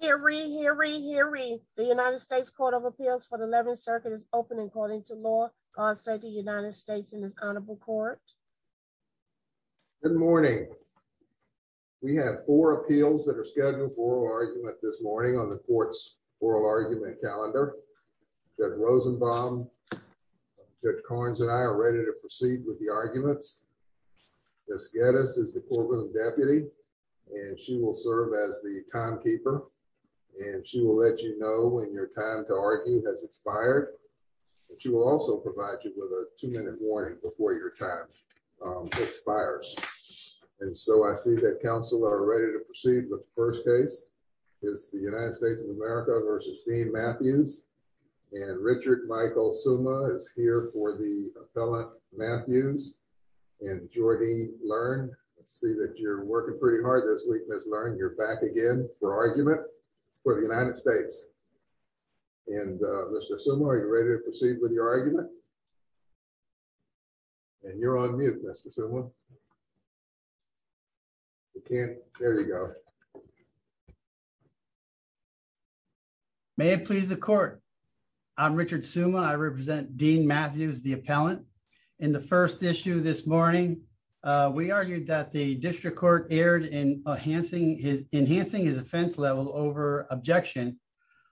Here we hear we hear we the United States Court of Appeals for the 11th circuit is open according to law. God save the United States in this honorable court. Good morning. We have four appeals that are scheduled for argument this morning on the court's oral argument calendar. That Rosenbaum, Judge Carnes and I are ready to proceed with the arguments. Miss Geddes is the courtroom deputy and she will serve as the timekeeper and she will let you know when your time to argue has expired. But you will also provide you with a two minute warning before your time expires. And so I see that counsel are ready to proceed. The first case is the United States of America versus Dean Matthews and Richard Michael Suma is here for the appellant Matthews. And Jordy, learn, see that you're working pretty hard this week, Miss learn, you're back again for argument for the United States. And Mr. Suma, are you ready to proceed with your argument? And you're on mute, Mr. Suma. You can't. There you go. May it please the court. I'm Richard Suma. I represent Dean Matthews, the appellant. In the first issue this morning, we argued that the district court erred in enhancing his enhancing his offense level over objection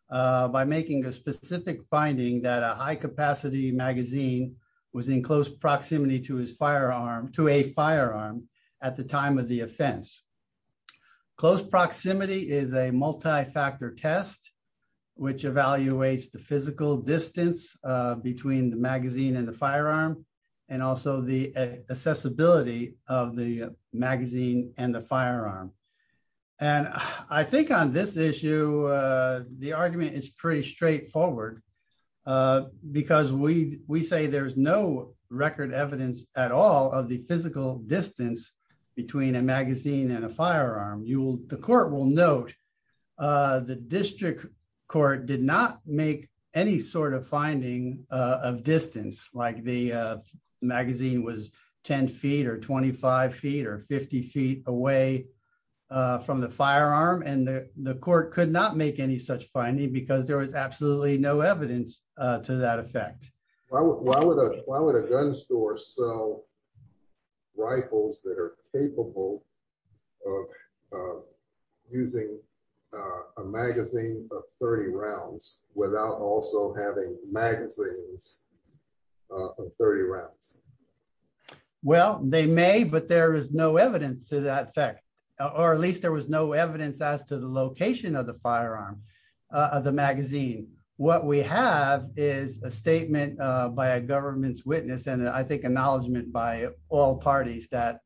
by making a specific finding that a high capacity magazine was in close proximity to his firearm to a firearm at the time of the offense. Close proximity is a multi-factor test, which evaluates the physical distance between the and also the accessibility of the magazine and the firearm. And I think on this issue, the argument is pretty straightforward. Because we we say there's no record evidence at all of the physical distance between a magazine and a firearm. You will the court will note the district court did not make any sort of finding of distance like the magazine was 10 feet or 25 feet or 50 feet away from the firearm. And the court could not make any such finding because there was absolutely no evidence to that effect. Why would a gun store sell rifles that are capable of using a magazine of 30 rounds without also having magazines of 30 rounds? Well, they may but there is no evidence to that fact. Or at least there was no evidence as to the location of the firearm of the magazine. What we have is a statement by a government's witness and I think acknowledgement by all parties that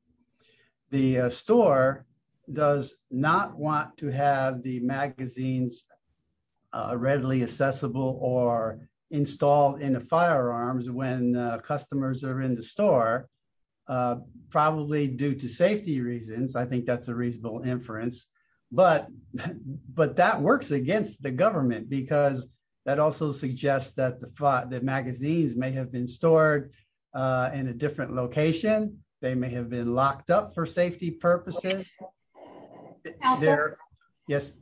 the store does not want to have the magazines readily accessible or installed in the firearms when customers are in the store. Probably due to safety reasons. I think that's a reasonable inference. But but that works against the government because that also suggests that the fact that magazines may have been stored in a different location, they may have been locked up for safety purposes. There. Yes.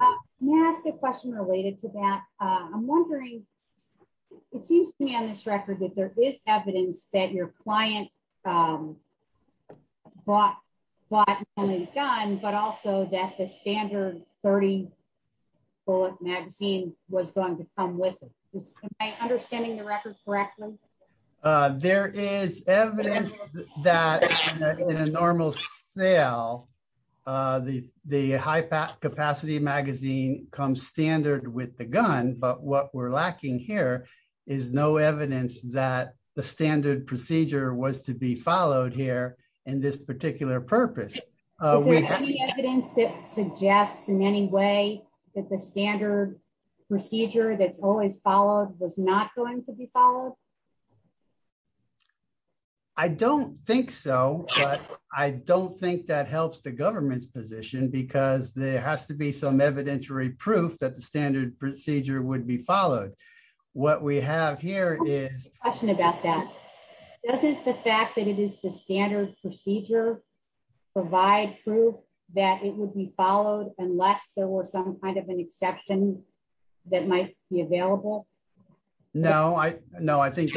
Yes. Good question related to that. I'm wondering, it seems to me on this standard 30 bullet magazine was going to come with it. Am I understanding the record correctly? There is evidence that in a normal sale, the high capacity magazine comes standard with the gun. But what we're lacking here is no evidence that the standard procedure was to be followed here in this particular purpose. Is there any evidence that suggests in any way that the standard procedure that's always followed was not going to be followed? I don't think so. But I don't think that helps the government's position because there has to be some evidentiary proof that the standard procedure would be followed. What we have here is a question about that. Doesn't the fact that it is the standard procedure provide proof that it would be followed unless there were some kind of an exception that might be available? No, I know. I think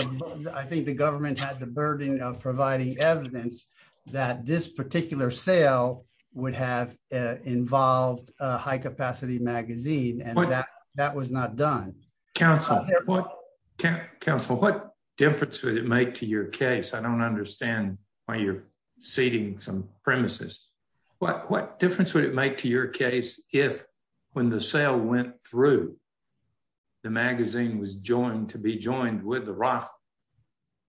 I think the government had the burden of providing evidence that this particular sale would have involved a high capacity magazine and that was not done. Council, what difference would it make to your case? I don't understand why you're ceding some premises. What difference would it make to your case if when the sale went through, the magazine was joined to be joined with the rifle?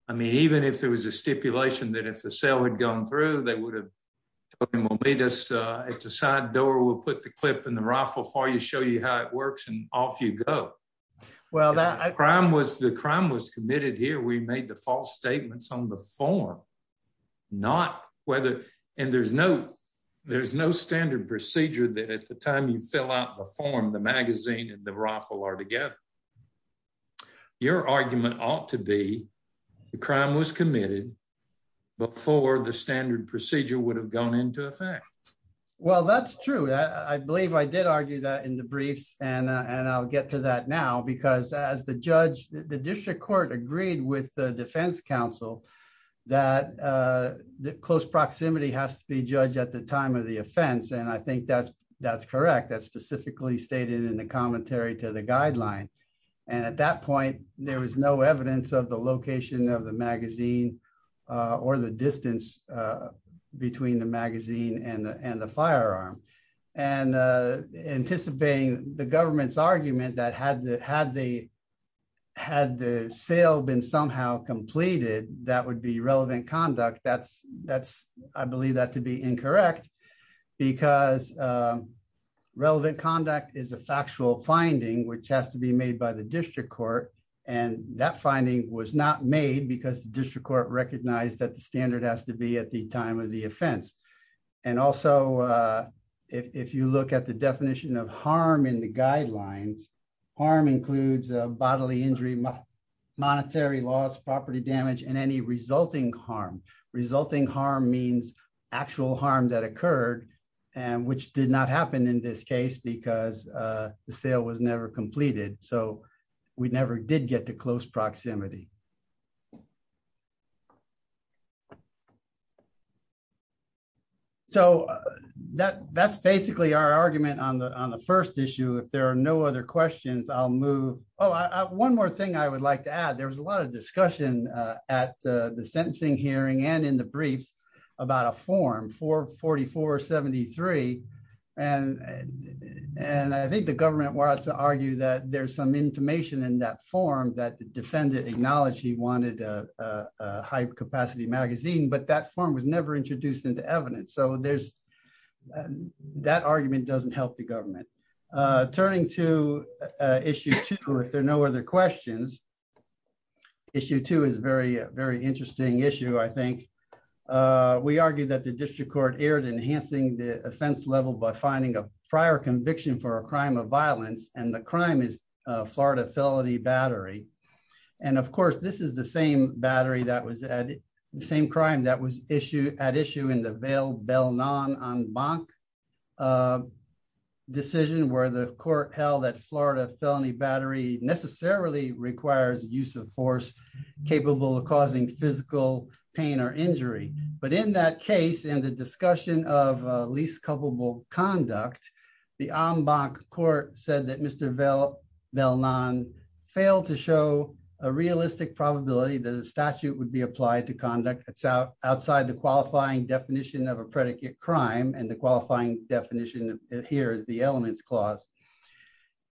I mean, even if there was a stipulation that if the sale had gone through, they would have told us it's a side door, we'll put the clip in the rifle for you, show you how it works and off you go. The crime was committed here. We made the false statements on the form. There's no standard procedure that at the time you fill out the form, the magazine and the rifle are together. Your argument ought to be the crime was committed before the standard procedure would have gone into effect. Well, that's true. I believe I did argue that in the briefs and I'll get to that now because as the judge, the district court agreed with the defense counsel that the close proximity has to be judged at the time of the offense. And I think that's correct. That's specifically stated in the commentary to the guideline. And at that point, there was no distance between the magazine and the firearm. And anticipating the government's argument that had the sale been somehow completed, that would be relevant conduct. I believe that to be incorrect because relevant conduct is a factual finding, which has to be made by the district court. And that finding was not made because the district court recognized that the standard has to be at the time of the offense. And also, if you look at the definition of harm in the guidelines, harm includes bodily injury, monetary loss, property damage, and any resulting harm. Resulting harm means actual harm that occurred, which did not happen in this case because the sale was never completed. So, we never did get to close proximity. So, that's basically our argument on the first issue. If there are no other questions, I'll move. Oh, one more thing I would like to add. There was a lot of discussion at the sentencing hearing and the briefs about a form, 44473. And I think the government wants to argue that there's some information in that form that the defendant acknowledged he wanted a high-capacity magazine, but that form was never introduced into evidence. So, that argument doesn't help the government. Turning to issue two, if there are no other questions. Issue two is a very interesting issue, I think. We argue that the district court erred in enhancing the offense level by finding a prior conviction for a crime of violence, and the crime is Florida Felony Battery. And of course, this is the same battery that was at the same crime that was at issue in the Vail-Belnon-En-Banc decision where the court held that Florida Felony Battery necessarily requires use of force capable of causing physical pain or injury. But in that case, in the discussion of least culpable conduct, the En-Banc court said that Mr. Vail-Belnon failed to show a realistic probability that a statute would be applied to conduct outside the qualifying definition of a predicate crime, and the qualifying definition here is the elements clause.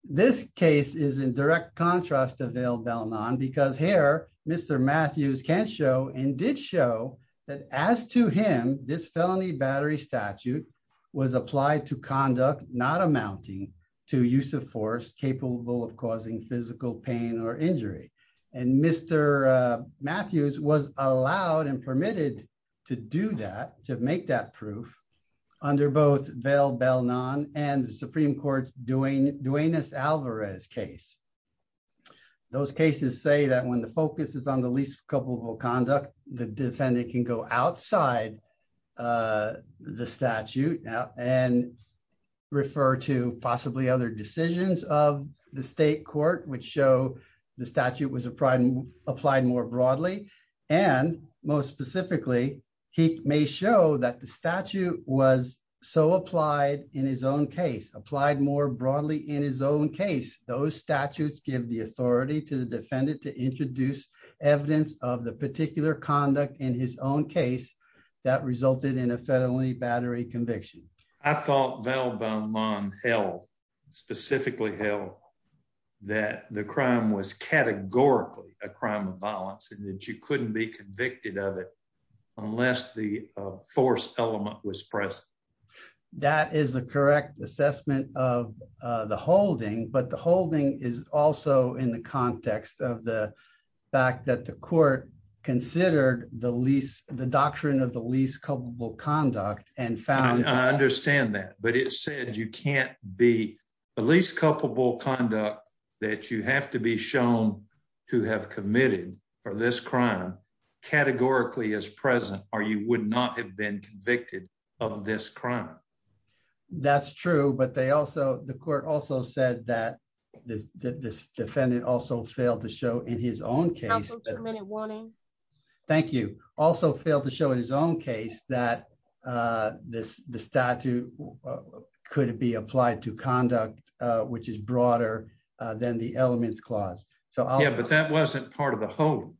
This case is in direct contrast to Vail-Belnon because here, Mr. Matthews can show and did show that as to him, this felony battery statute was applied to conduct not amounting to use of force capable of causing physical pain or injury. And Mr. Matthews was allowed and permitted to do that, to make that proof under both Vail-Belnon and the Supreme Court's Duenas-Alvarez case. Those cases say that when the focus is on the least culpable conduct, the defendant can go outside the statute and refer to possibly other decisions of the state court which show the statute was applied more broadly. And most specifically, he may show that the statute was so applied in his own case, applied more broadly in his own case, those statutes give the authority to the defendant to introduce evidence of the particular conduct in his own case that resulted in a felony battery conviction. I thought Vail-Belnon held, specifically held, that the categorically a crime of violence and that you couldn't be convicted of it unless the force element was present. That is the correct assessment of the holding, but the holding is also in the context of the fact that the court considered the doctrine of the least culpable conduct and found... I understand that, but it said you can't be the least culpable conduct that you have to be shown to have committed for this crime categorically as present, or you would not have been convicted of this crime. That's true, but they also, the court also said that this defendant also failed to show in his own case... Counsel, two-minute warning. Thank you. Also failed to show in his own case that the statute could be applied to conduct which is broader than the elements clause. Yeah, but that wasn't part of the whole.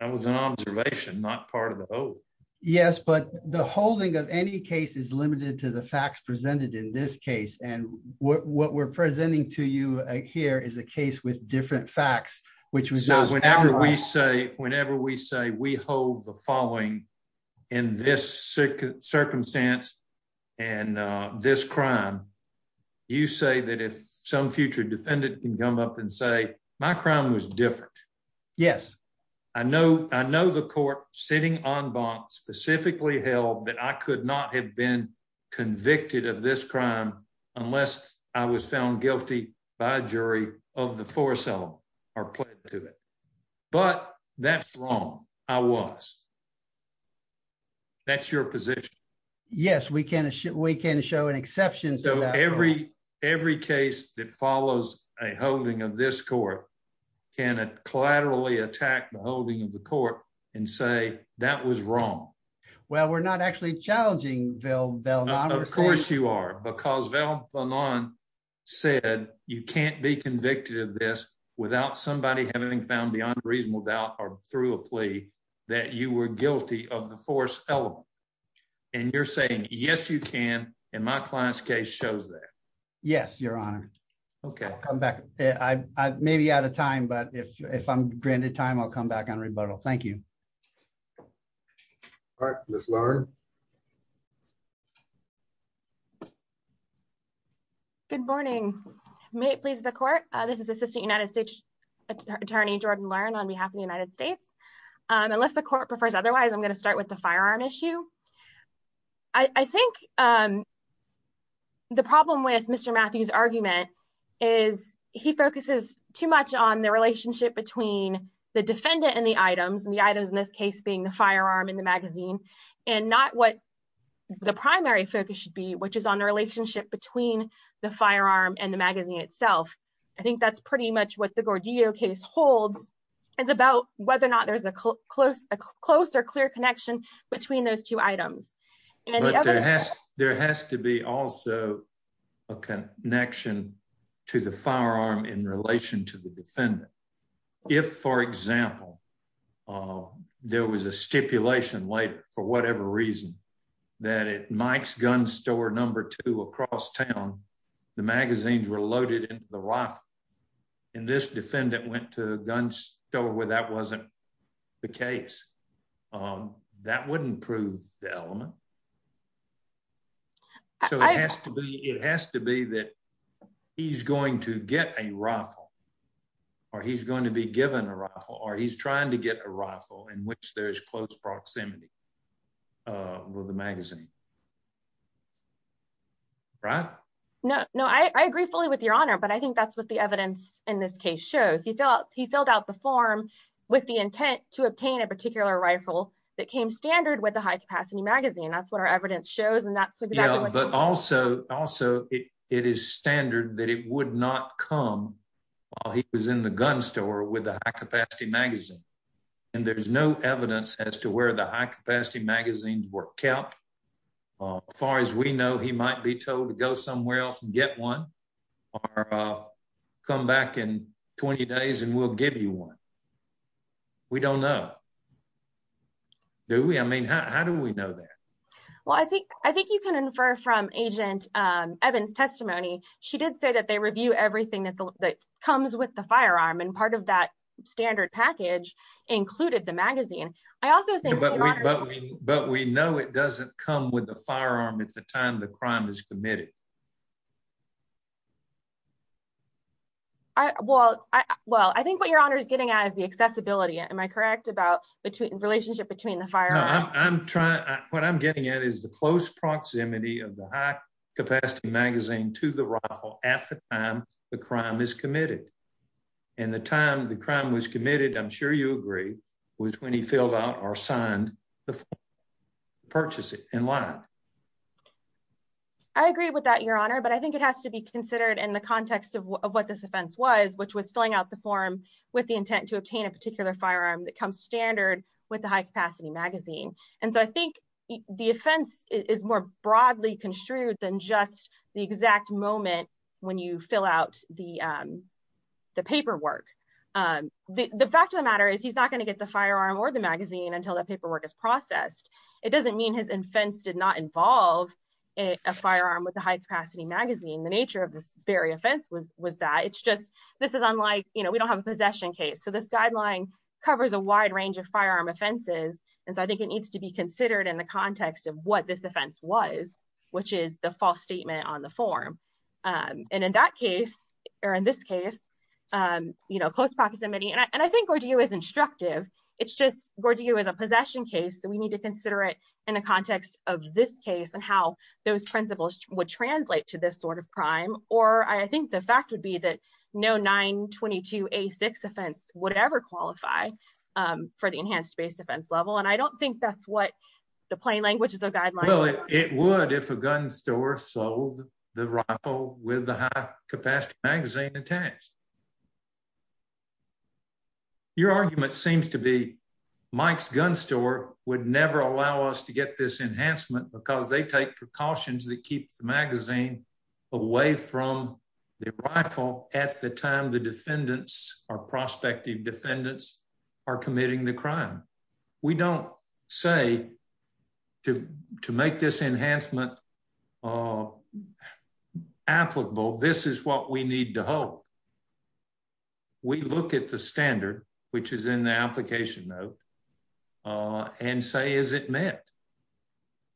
That was an observation, not part of the whole. Yes, but the holding of any case is limited to the facts presented in this case, and what we're presenting to you here is a case with different facts, which was... So whenever we say we hold the following in this circumstance and this crime, you say that if some future defendant can come up and say, my crime was different. Yes. I know the court sitting en banc specifically held that I could not have been convicted of this crime unless I was found guilty by a jury of the four cell or pled to it, but that's wrong. I was. That's your position. Yes, we can show an exception. So every case that follows a holding of this court can it collaterally attack the holding of the court and say that was wrong. Well, we're not actually challenging Val Vellan. Of course you are, because Val Vellan said you can't be convicted of this without somebody having found beyond reasonable doubt or through a plea that you were guilty of the force element. And you're saying, yes, you can. And my client's case shows that. Yes, your honor. Okay. I'll come back. I may be out of time, but if I'm granted time, I'll come back on rebuttal. Thank you. All right, Ms. Lauren. Good morning. May it please the court. This is assistant United States attorney Jordan learn on behalf of the United States. Unless the court prefers, otherwise I'm going to start with the firearm issue. I think the problem with Mr. Matthews argument is he focuses too much on the relationship between the defendant and the items and the items in this case being the firearm in the magazine and not what the primary focus should be, which is on the relationship between the firearm and the magazine itself. I think that's pretty much the Gordillo case holds. It's about whether or not there's a close, a closer, clear connection between those two items. There has to be also a connection to the firearm in relation to the defendant. If for example, there was a stipulation later for whatever reason that it Mike's gun store across town, the magazines were loaded into the rifle and this defendant went to a gun store where that wasn't the case, that wouldn't prove the element. So it has to be that he's going to get a rifle or he's going to be given a rifle or he's trying to get a rifle in which there's close proximity with the magazine. Right? No, no, I agree fully with your honor, but I think that's what the evidence in this case shows. He felt he filled out the form with the intent to obtain a particular rifle that came standard with a high capacity magazine. That's what our evidence shows. But also, also it is standard that it would not come while he was in the gun store with a high capacity magazine. And there's no evidence as to where the high capacity magazines were kept. Far as we know, he might be told to go somewhere else and get one or come back in 20 days and we'll give you one. We don't know. Do we? I mean, how do we know that? Well, I think you can infer from Agent Evans' testimony, she did say that they review everything that comes with the standard package, including the magazine. But we know it doesn't come with the firearm at the time the crime is committed. Well, I think what your honor is getting at is the accessibility. Am I correct about the relationship between the firearm? What I'm getting at is the close proximity of the high capacity magazine to the rifle at the time the crime is committed. And the time was committed, I'm sure you agree, was when he filled out or signed the purchase in line. I agree with that, your honor, but I think it has to be considered in the context of what this offense was, which was filling out the form with the intent to obtain a particular firearm that comes standard with the high capacity magazine. And so I think the offense is more broadly construed than just the exact moment when you fill out the paperwork. The fact of the matter is he's not going to get the firearm or the magazine until the paperwork is processed. It doesn't mean his offense did not involve a firearm with a high capacity magazine. The nature of this very offense was that. It's just, this is unlike, you know, we don't have a possession case. So this guideline covers a wide range of firearm offenses. And so I think it needs to be considered in the context of what this offense was, which is the false statement on the form. And in that case, or in this case, you know, close proximity. And I think Gordillo is instructive. It's just Gordillo is a possession case. So we need to consider it in the context of this case and how those principles would translate to this sort of crime. Or I think the fact would be that no 922A6 offense would ever qualify for the enhanced base offense level. And I don't think that's what the plain language is a guideline. Well, it would if a gun store sold the rifle with the high capacity magazine attached. Your argument seems to be Mike's gun store would never allow us to get this enhancement because they take precautions that keeps the magazine away from the rifle at the time the defendants or prospective defendants are committing the crime. We don't say to make this enhancement applicable. This is what we need to hope. We look at the standard, which is in the application note and say, is it met?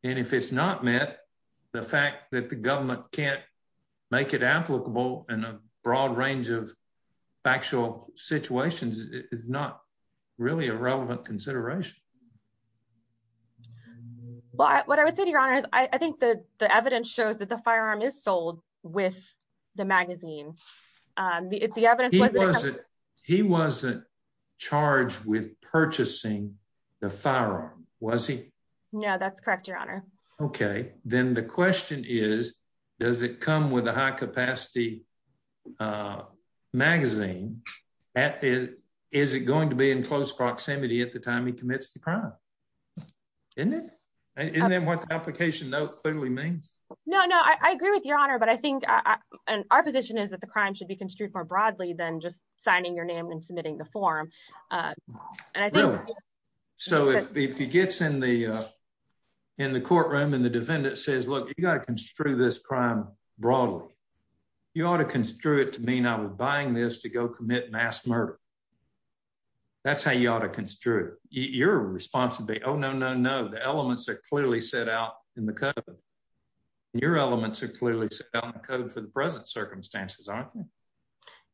And if it's not met, the fact that the government can't make it applicable in a broad range of factual situations is not really a relevant consideration. Well, what I would say to your honor is I think that the evidence shows that the firearm is sold with the magazine. He wasn't charged with purchasing the firearm, was he? No, that's correct, your honor. Okay, then the question is, does it come with a high capacity magazine? Is it going to be in close proximity at the time he commits the crime? Isn't it? Isn't that what the application note clearly means? No, no, I agree with your honor. But I think our position is that the crime should be construed more broadly than just signing your name and submitting the form. So if he gets in the courtroom and the defendant says, look, you got to construe this crime broadly. You ought to construe it to mean I was buying this to go commit mass murder. That's how you ought to construe it. Your response would be, oh, no, no, no, the elements are clearly set out in the code. Your elements are clearly set out in the code for the present circumstances, aren't they?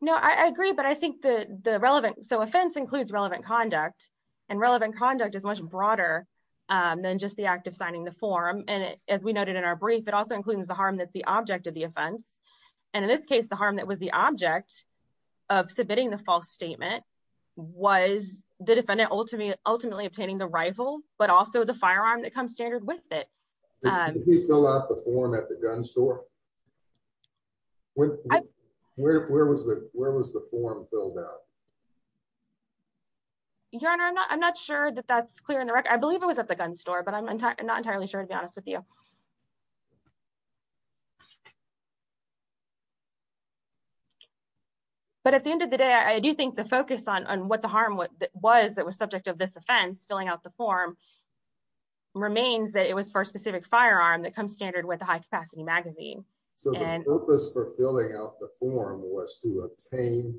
No, I agree. But I think the relevant, so offense includes relevant conduct, and relevant conduct is much broader than just the act of signing the form. And as we noted in our brief, it also includes the harm that's the object of the offense. And in this case, the harm that was the object of submitting the false statement was the defendant ultimately obtaining the rifle, but also the firearm that comes standard with it. Did he fill out the form at the gun store? Where was the form filled out? Your honor, I'm not sure that that's clear in the record. I believe it was at the gun store, but I'm not entirely sure to be honest with you. But at the end of the day, I do think the focus on what the harm was that was subject of this offense, filling out the form, remains that it was for a specific firearm that comes standard with a high capacity magazine. So the purpose for filling out the form was to obtain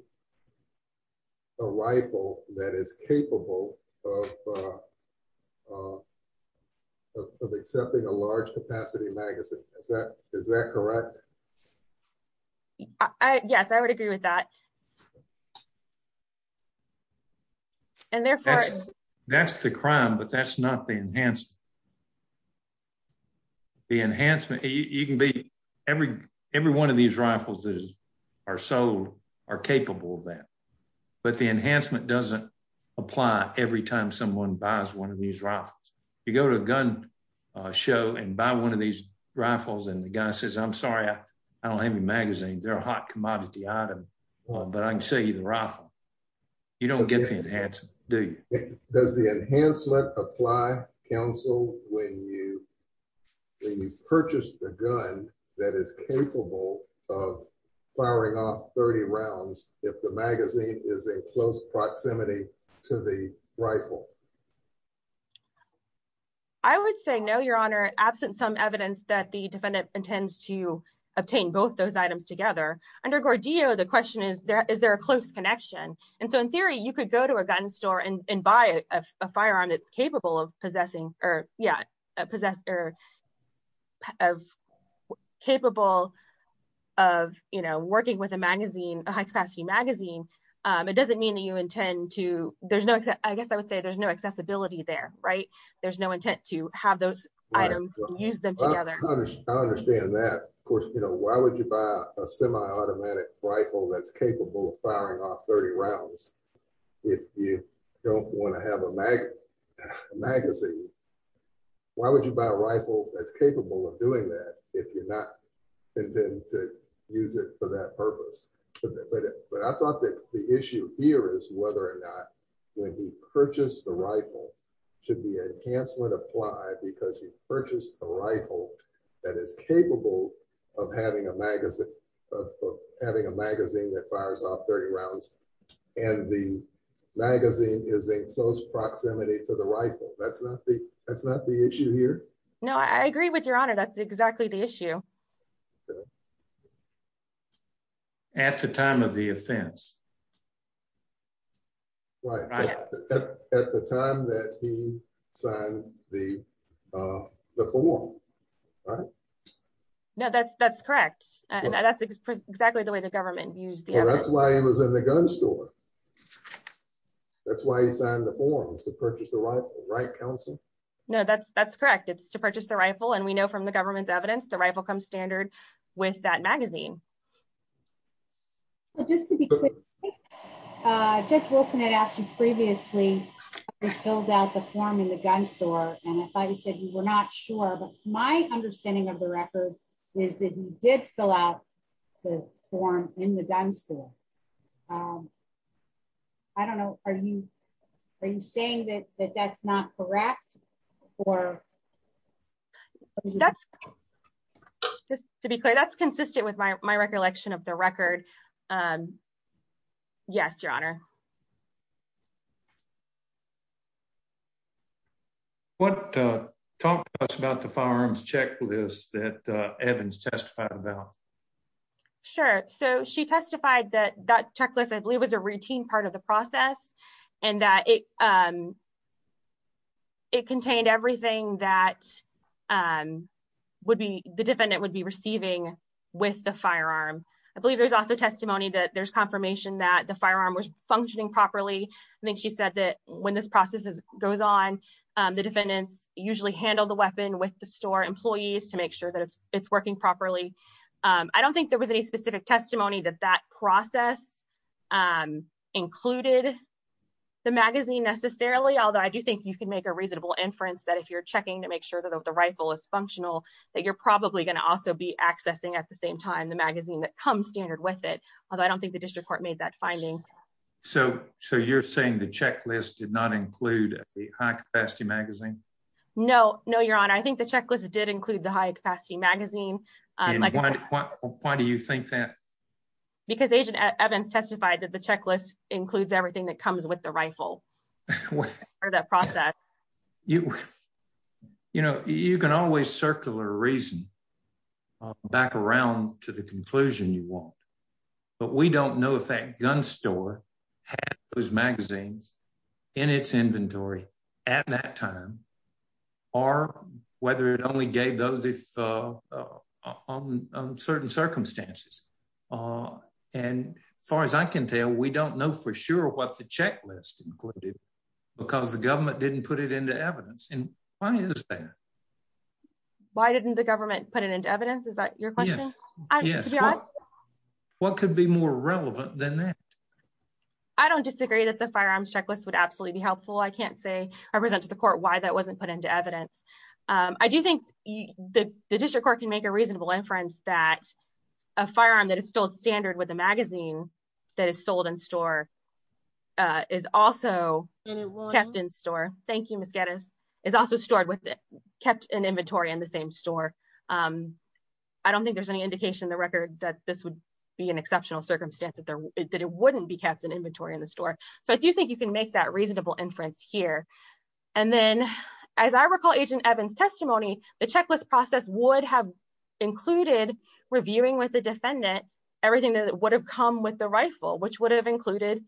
a rifle that is capable of accepting a large capacity magazine. Is that correct? Yes, I would agree with that. That's the crime, but that's not the enhancement. The enhancement, you can be, every one of these rifles that are sold are capable of that. But the enhancement doesn't apply every time someone buys one of these rifles. You go to a gun show and buy one of these rifles and the guy says, I'm sorry, I don't have any magazines. They're a hot commodity item, but I can sell you the rifle. You don't get the enhancement, do you? Does the enhancement apply, counsel, when you purchase the gun that is capable of is in close proximity to the rifle? I would say no, your honor, absent some evidence that the defendant intends to obtain both those items together. Under Gordillo, the question is, is there a close connection? And so in theory, you could go to a gun store and buy a firearm that's capable of possessing or doesn't mean that you intend to, I guess I would say there's no accessibility there. There's no intent to have those items and use them together. I understand that. Of course, why would you buy a semi-automatic rifle that's capable of firing off 30 rounds if you don't want to have a magazine? Why would you buy a rifle that's the issue here is whether or not when he purchased the rifle, should the enhancement apply because he purchased a rifle that is capable of having a magazine that fires off 30 rounds and the magazine is in close proximity to the rifle. That's not the issue here. No, I agree with your honor. That's exactly the issue. Okay. At the time of the offense. Right. At the time that he signed the form, right? No, that's correct. And that's exactly the way the government used the evidence. Well, that's why he was in the gun store. That's why he signed the form to purchase the rifle, right counsel? No, that's correct. It's to purchase the rifle. And we know from the government's evidence, the rifle comes standard with that magazine. Well, just to be quick, Judge Wilson had asked you previously, have you filled out the form in the gun store? And if I said you were not sure, but my understanding of the record is that he did fill out the form in the gun store. I don't know. Are you saying that that's not correct or? That's just to be clear. That's consistent with my recollection of the record. Yes, your honor. What talk to us about the firearms checklist that Evans testified about? Sure. So she testified that that checklist, I believe was a routine part of the process and that it contained everything that would be the defendant would be receiving with the firearm. I believe there's also testimony that there's confirmation that the firearm was functioning properly. I think she said that when this process goes on, the defendants usually handle the weapon with the store employees to make sure that it's working properly. I don't think there was any specific testimony that that process included the magazine necessarily, although I do think you can make a reasonable inference that if you're checking to make sure that the rifle is functional, that you're probably going to also be accessing at the same time the magazine that comes standard with it. Although I don't think the district court made that finding. So you're saying the checklist did not include the high capacity magazine? No, no, your honor. I think the checklist did include the high capacity magazine. Why do you think that? Because agent Evans testified that the checklist includes everything that comes with the rifle or that process. You know, you can always circle a reason back around to the conclusion you want, but we don't know if that gun store had those magazines in its inventory at that time or whether it only gave those on certain circumstances. And as far as I can tell, we don't know for sure what the checklist included because the government didn't put it into evidence. And why is that? Why didn't the government put it into evidence? Is that your question? Yes. What could be more relevant than that? I don't disagree that the firearms checklist would absolutely be helpful. I can't say I present to the court why that wasn't put into evidence. I do think the district court can make a reasonable inference that a firearm that is still standard with the magazine that is sold in store is also kept in store. Thank you, Ms. Geddes. It's also stored with it, kept in inventory in the same store. I don't think there's any indication in the record that this would be an exceptional circumstance, that it wouldn't be kept in inventory in the store. So I do think you can make that reasonable inference here. And then as I recall, Agent Evans testimony, the checklist process would have included reviewing with the defendant everything that would have come with the rifle, which would have included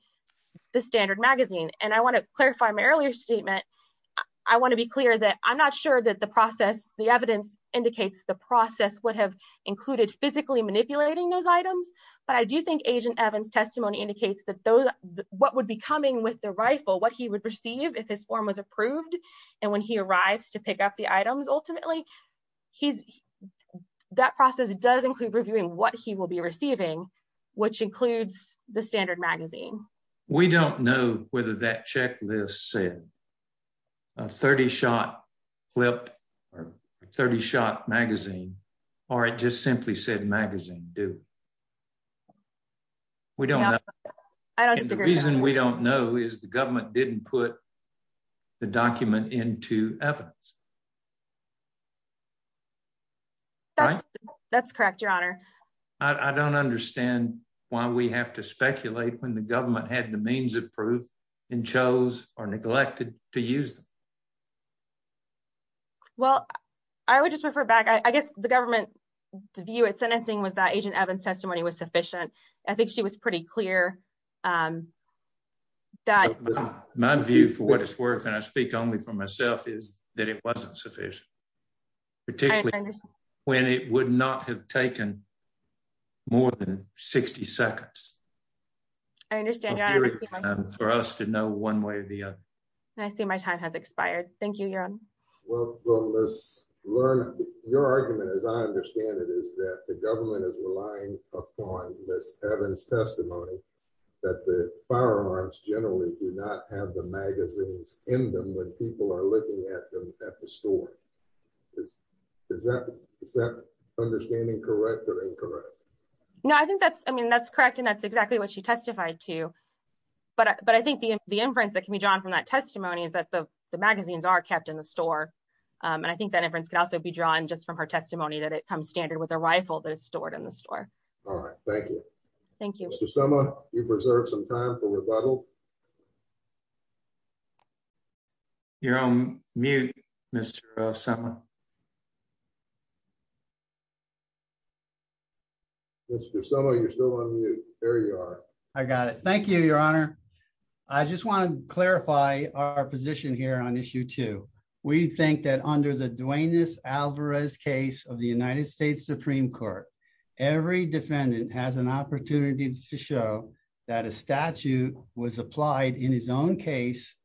the standard magazine. And I want to clarify my earlier statement. I want to be clear that I'm not sure that the process, the evidence indicates the process would have included physically manipulating those items. But I do think Agent Evans testimony indicates that what would be coming with the rifle, what he would receive if his form was approved, and when he arrives to pick up the items ultimately, that process does include reviewing what he will be receiving, which includes the standard magazine. We don't know whether that checklist said a 30-shot flip or 30-shot magazine, or it just simply said magazine do. We don't know. I don't disagree. The reason we don't know is the government didn't put the document into evidence. That's correct, Your Honor. I don't understand why we have to speculate when the government had the means of proof and chose or neglected to use them. Well, I would just refer back. I guess the government's view at sentencing was that Agent Evans testimony was sufficient. I think she was pretty clear. My view for what it's worth, and I speak only for myself, is that it wasn't sufficient, particularly when it would not have taken more than 60 seconds. I understand. For us to know one way or the other. I see my time has expired. Thank you, Your Honor. Your argument, as I understand it, is that the government is relying upon Ms. Evans' testimony that the firearms generally do not have the magazines in them when people are looking at them at the store. Is that understanding correct or incorrect? No, I think that's correct, and that's exactly what she testified to. But I think the inference that can be drawn from that testimony is that the magazines are kept in the store. And I think that inference could also be drawn just from her testimony that it comes standard with a rifle that is stored in the store. All right. Thank you. Thank you. Mr. Sema, you've reserved some time for rebuttal. You're on mute, Mr. Sema. Mr. Sema, you're still on mute. There you are. I got it. Thank you, Your Honor. I just want to clarify our position here on issue two. We think that under the Duane S. Alvarez case of the United States Supreme Court, every defendant has an opportunity to show that a statute was applied in his own case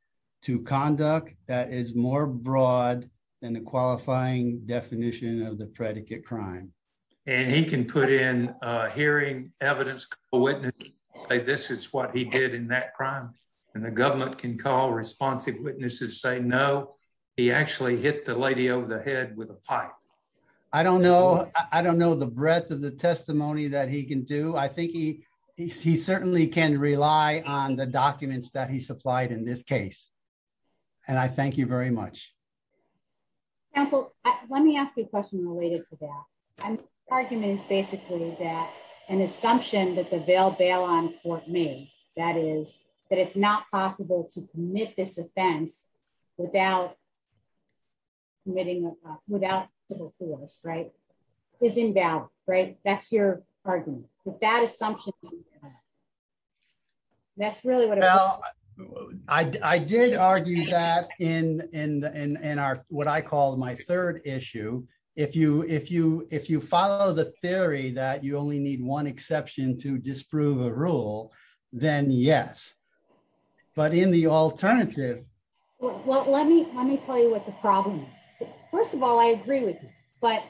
to conduct that is more broad than the qualifying definition of the predicate crime. And he can put in a hearing evidence, a witness, say this is what he did in that crime. And the government can call responsive witnesses, say no, he actually hit the lady over the head with a pipe. I don't know. I don't know the breadth of the testimony that he can do. I think he certainly can rely on the documents that he supplied in this case. And I thank you very much. Counsel, let me ask a question related to that. Argument is basically that an assumption that the bail bail on court made, that is that it's not possible to commit this offense without. Committing without force, right? Is invalid, right? That's your argument that assumption. That's really what I did argue that in and are what I call my third issue. If you if you if you follow the theory that you only need one exception to disprove a rule, then yes, but in the alternative. Well, let me let me tell you what the problem is. First of all, I agree with you, but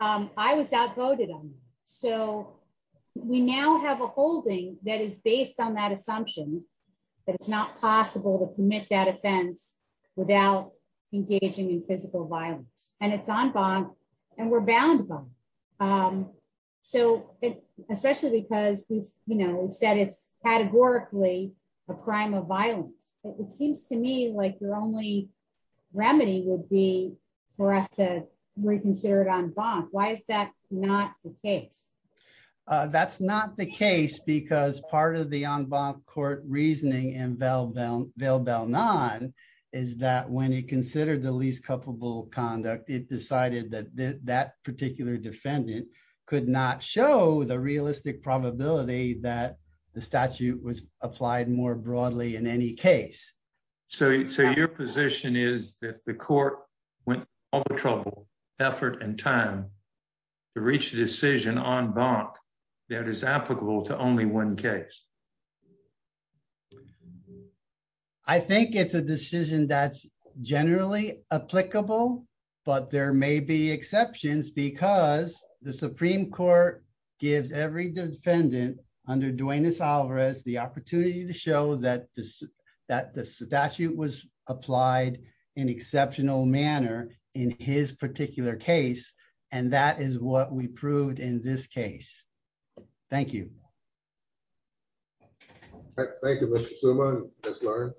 I was outvoted on. So we now have a holding that is based on that assumption. That it's not possible to commit that offense without engaging in physical violence. And it's on bond and we're bound them. So especially because we've said it's categorically a crime of violence. It seems to me like your only remedy would be for us to reconsider it on bond. Why is that not the case? That's not the case because part of the on bond court reasoning and bail bail bail bail non is that when he considered the least culpable conduct, it decided that that particular defendant could not show the realistic probability that the statute was applied more broadly in any case. So so your position is that the court went all the trouble, effort and time to reach a decision on bonk that is applicable to only one case. I think it's a decision that's generally applicable, but there may be exceptions because the Supreme Court gives every defendant under Duenas-Alvarez the opportunity to show that this that the statute was applied in exceptional manner in his particular case. And that is what we proved in this case. Thank you. All right. Thank you, Mr. Suma. Let's learn.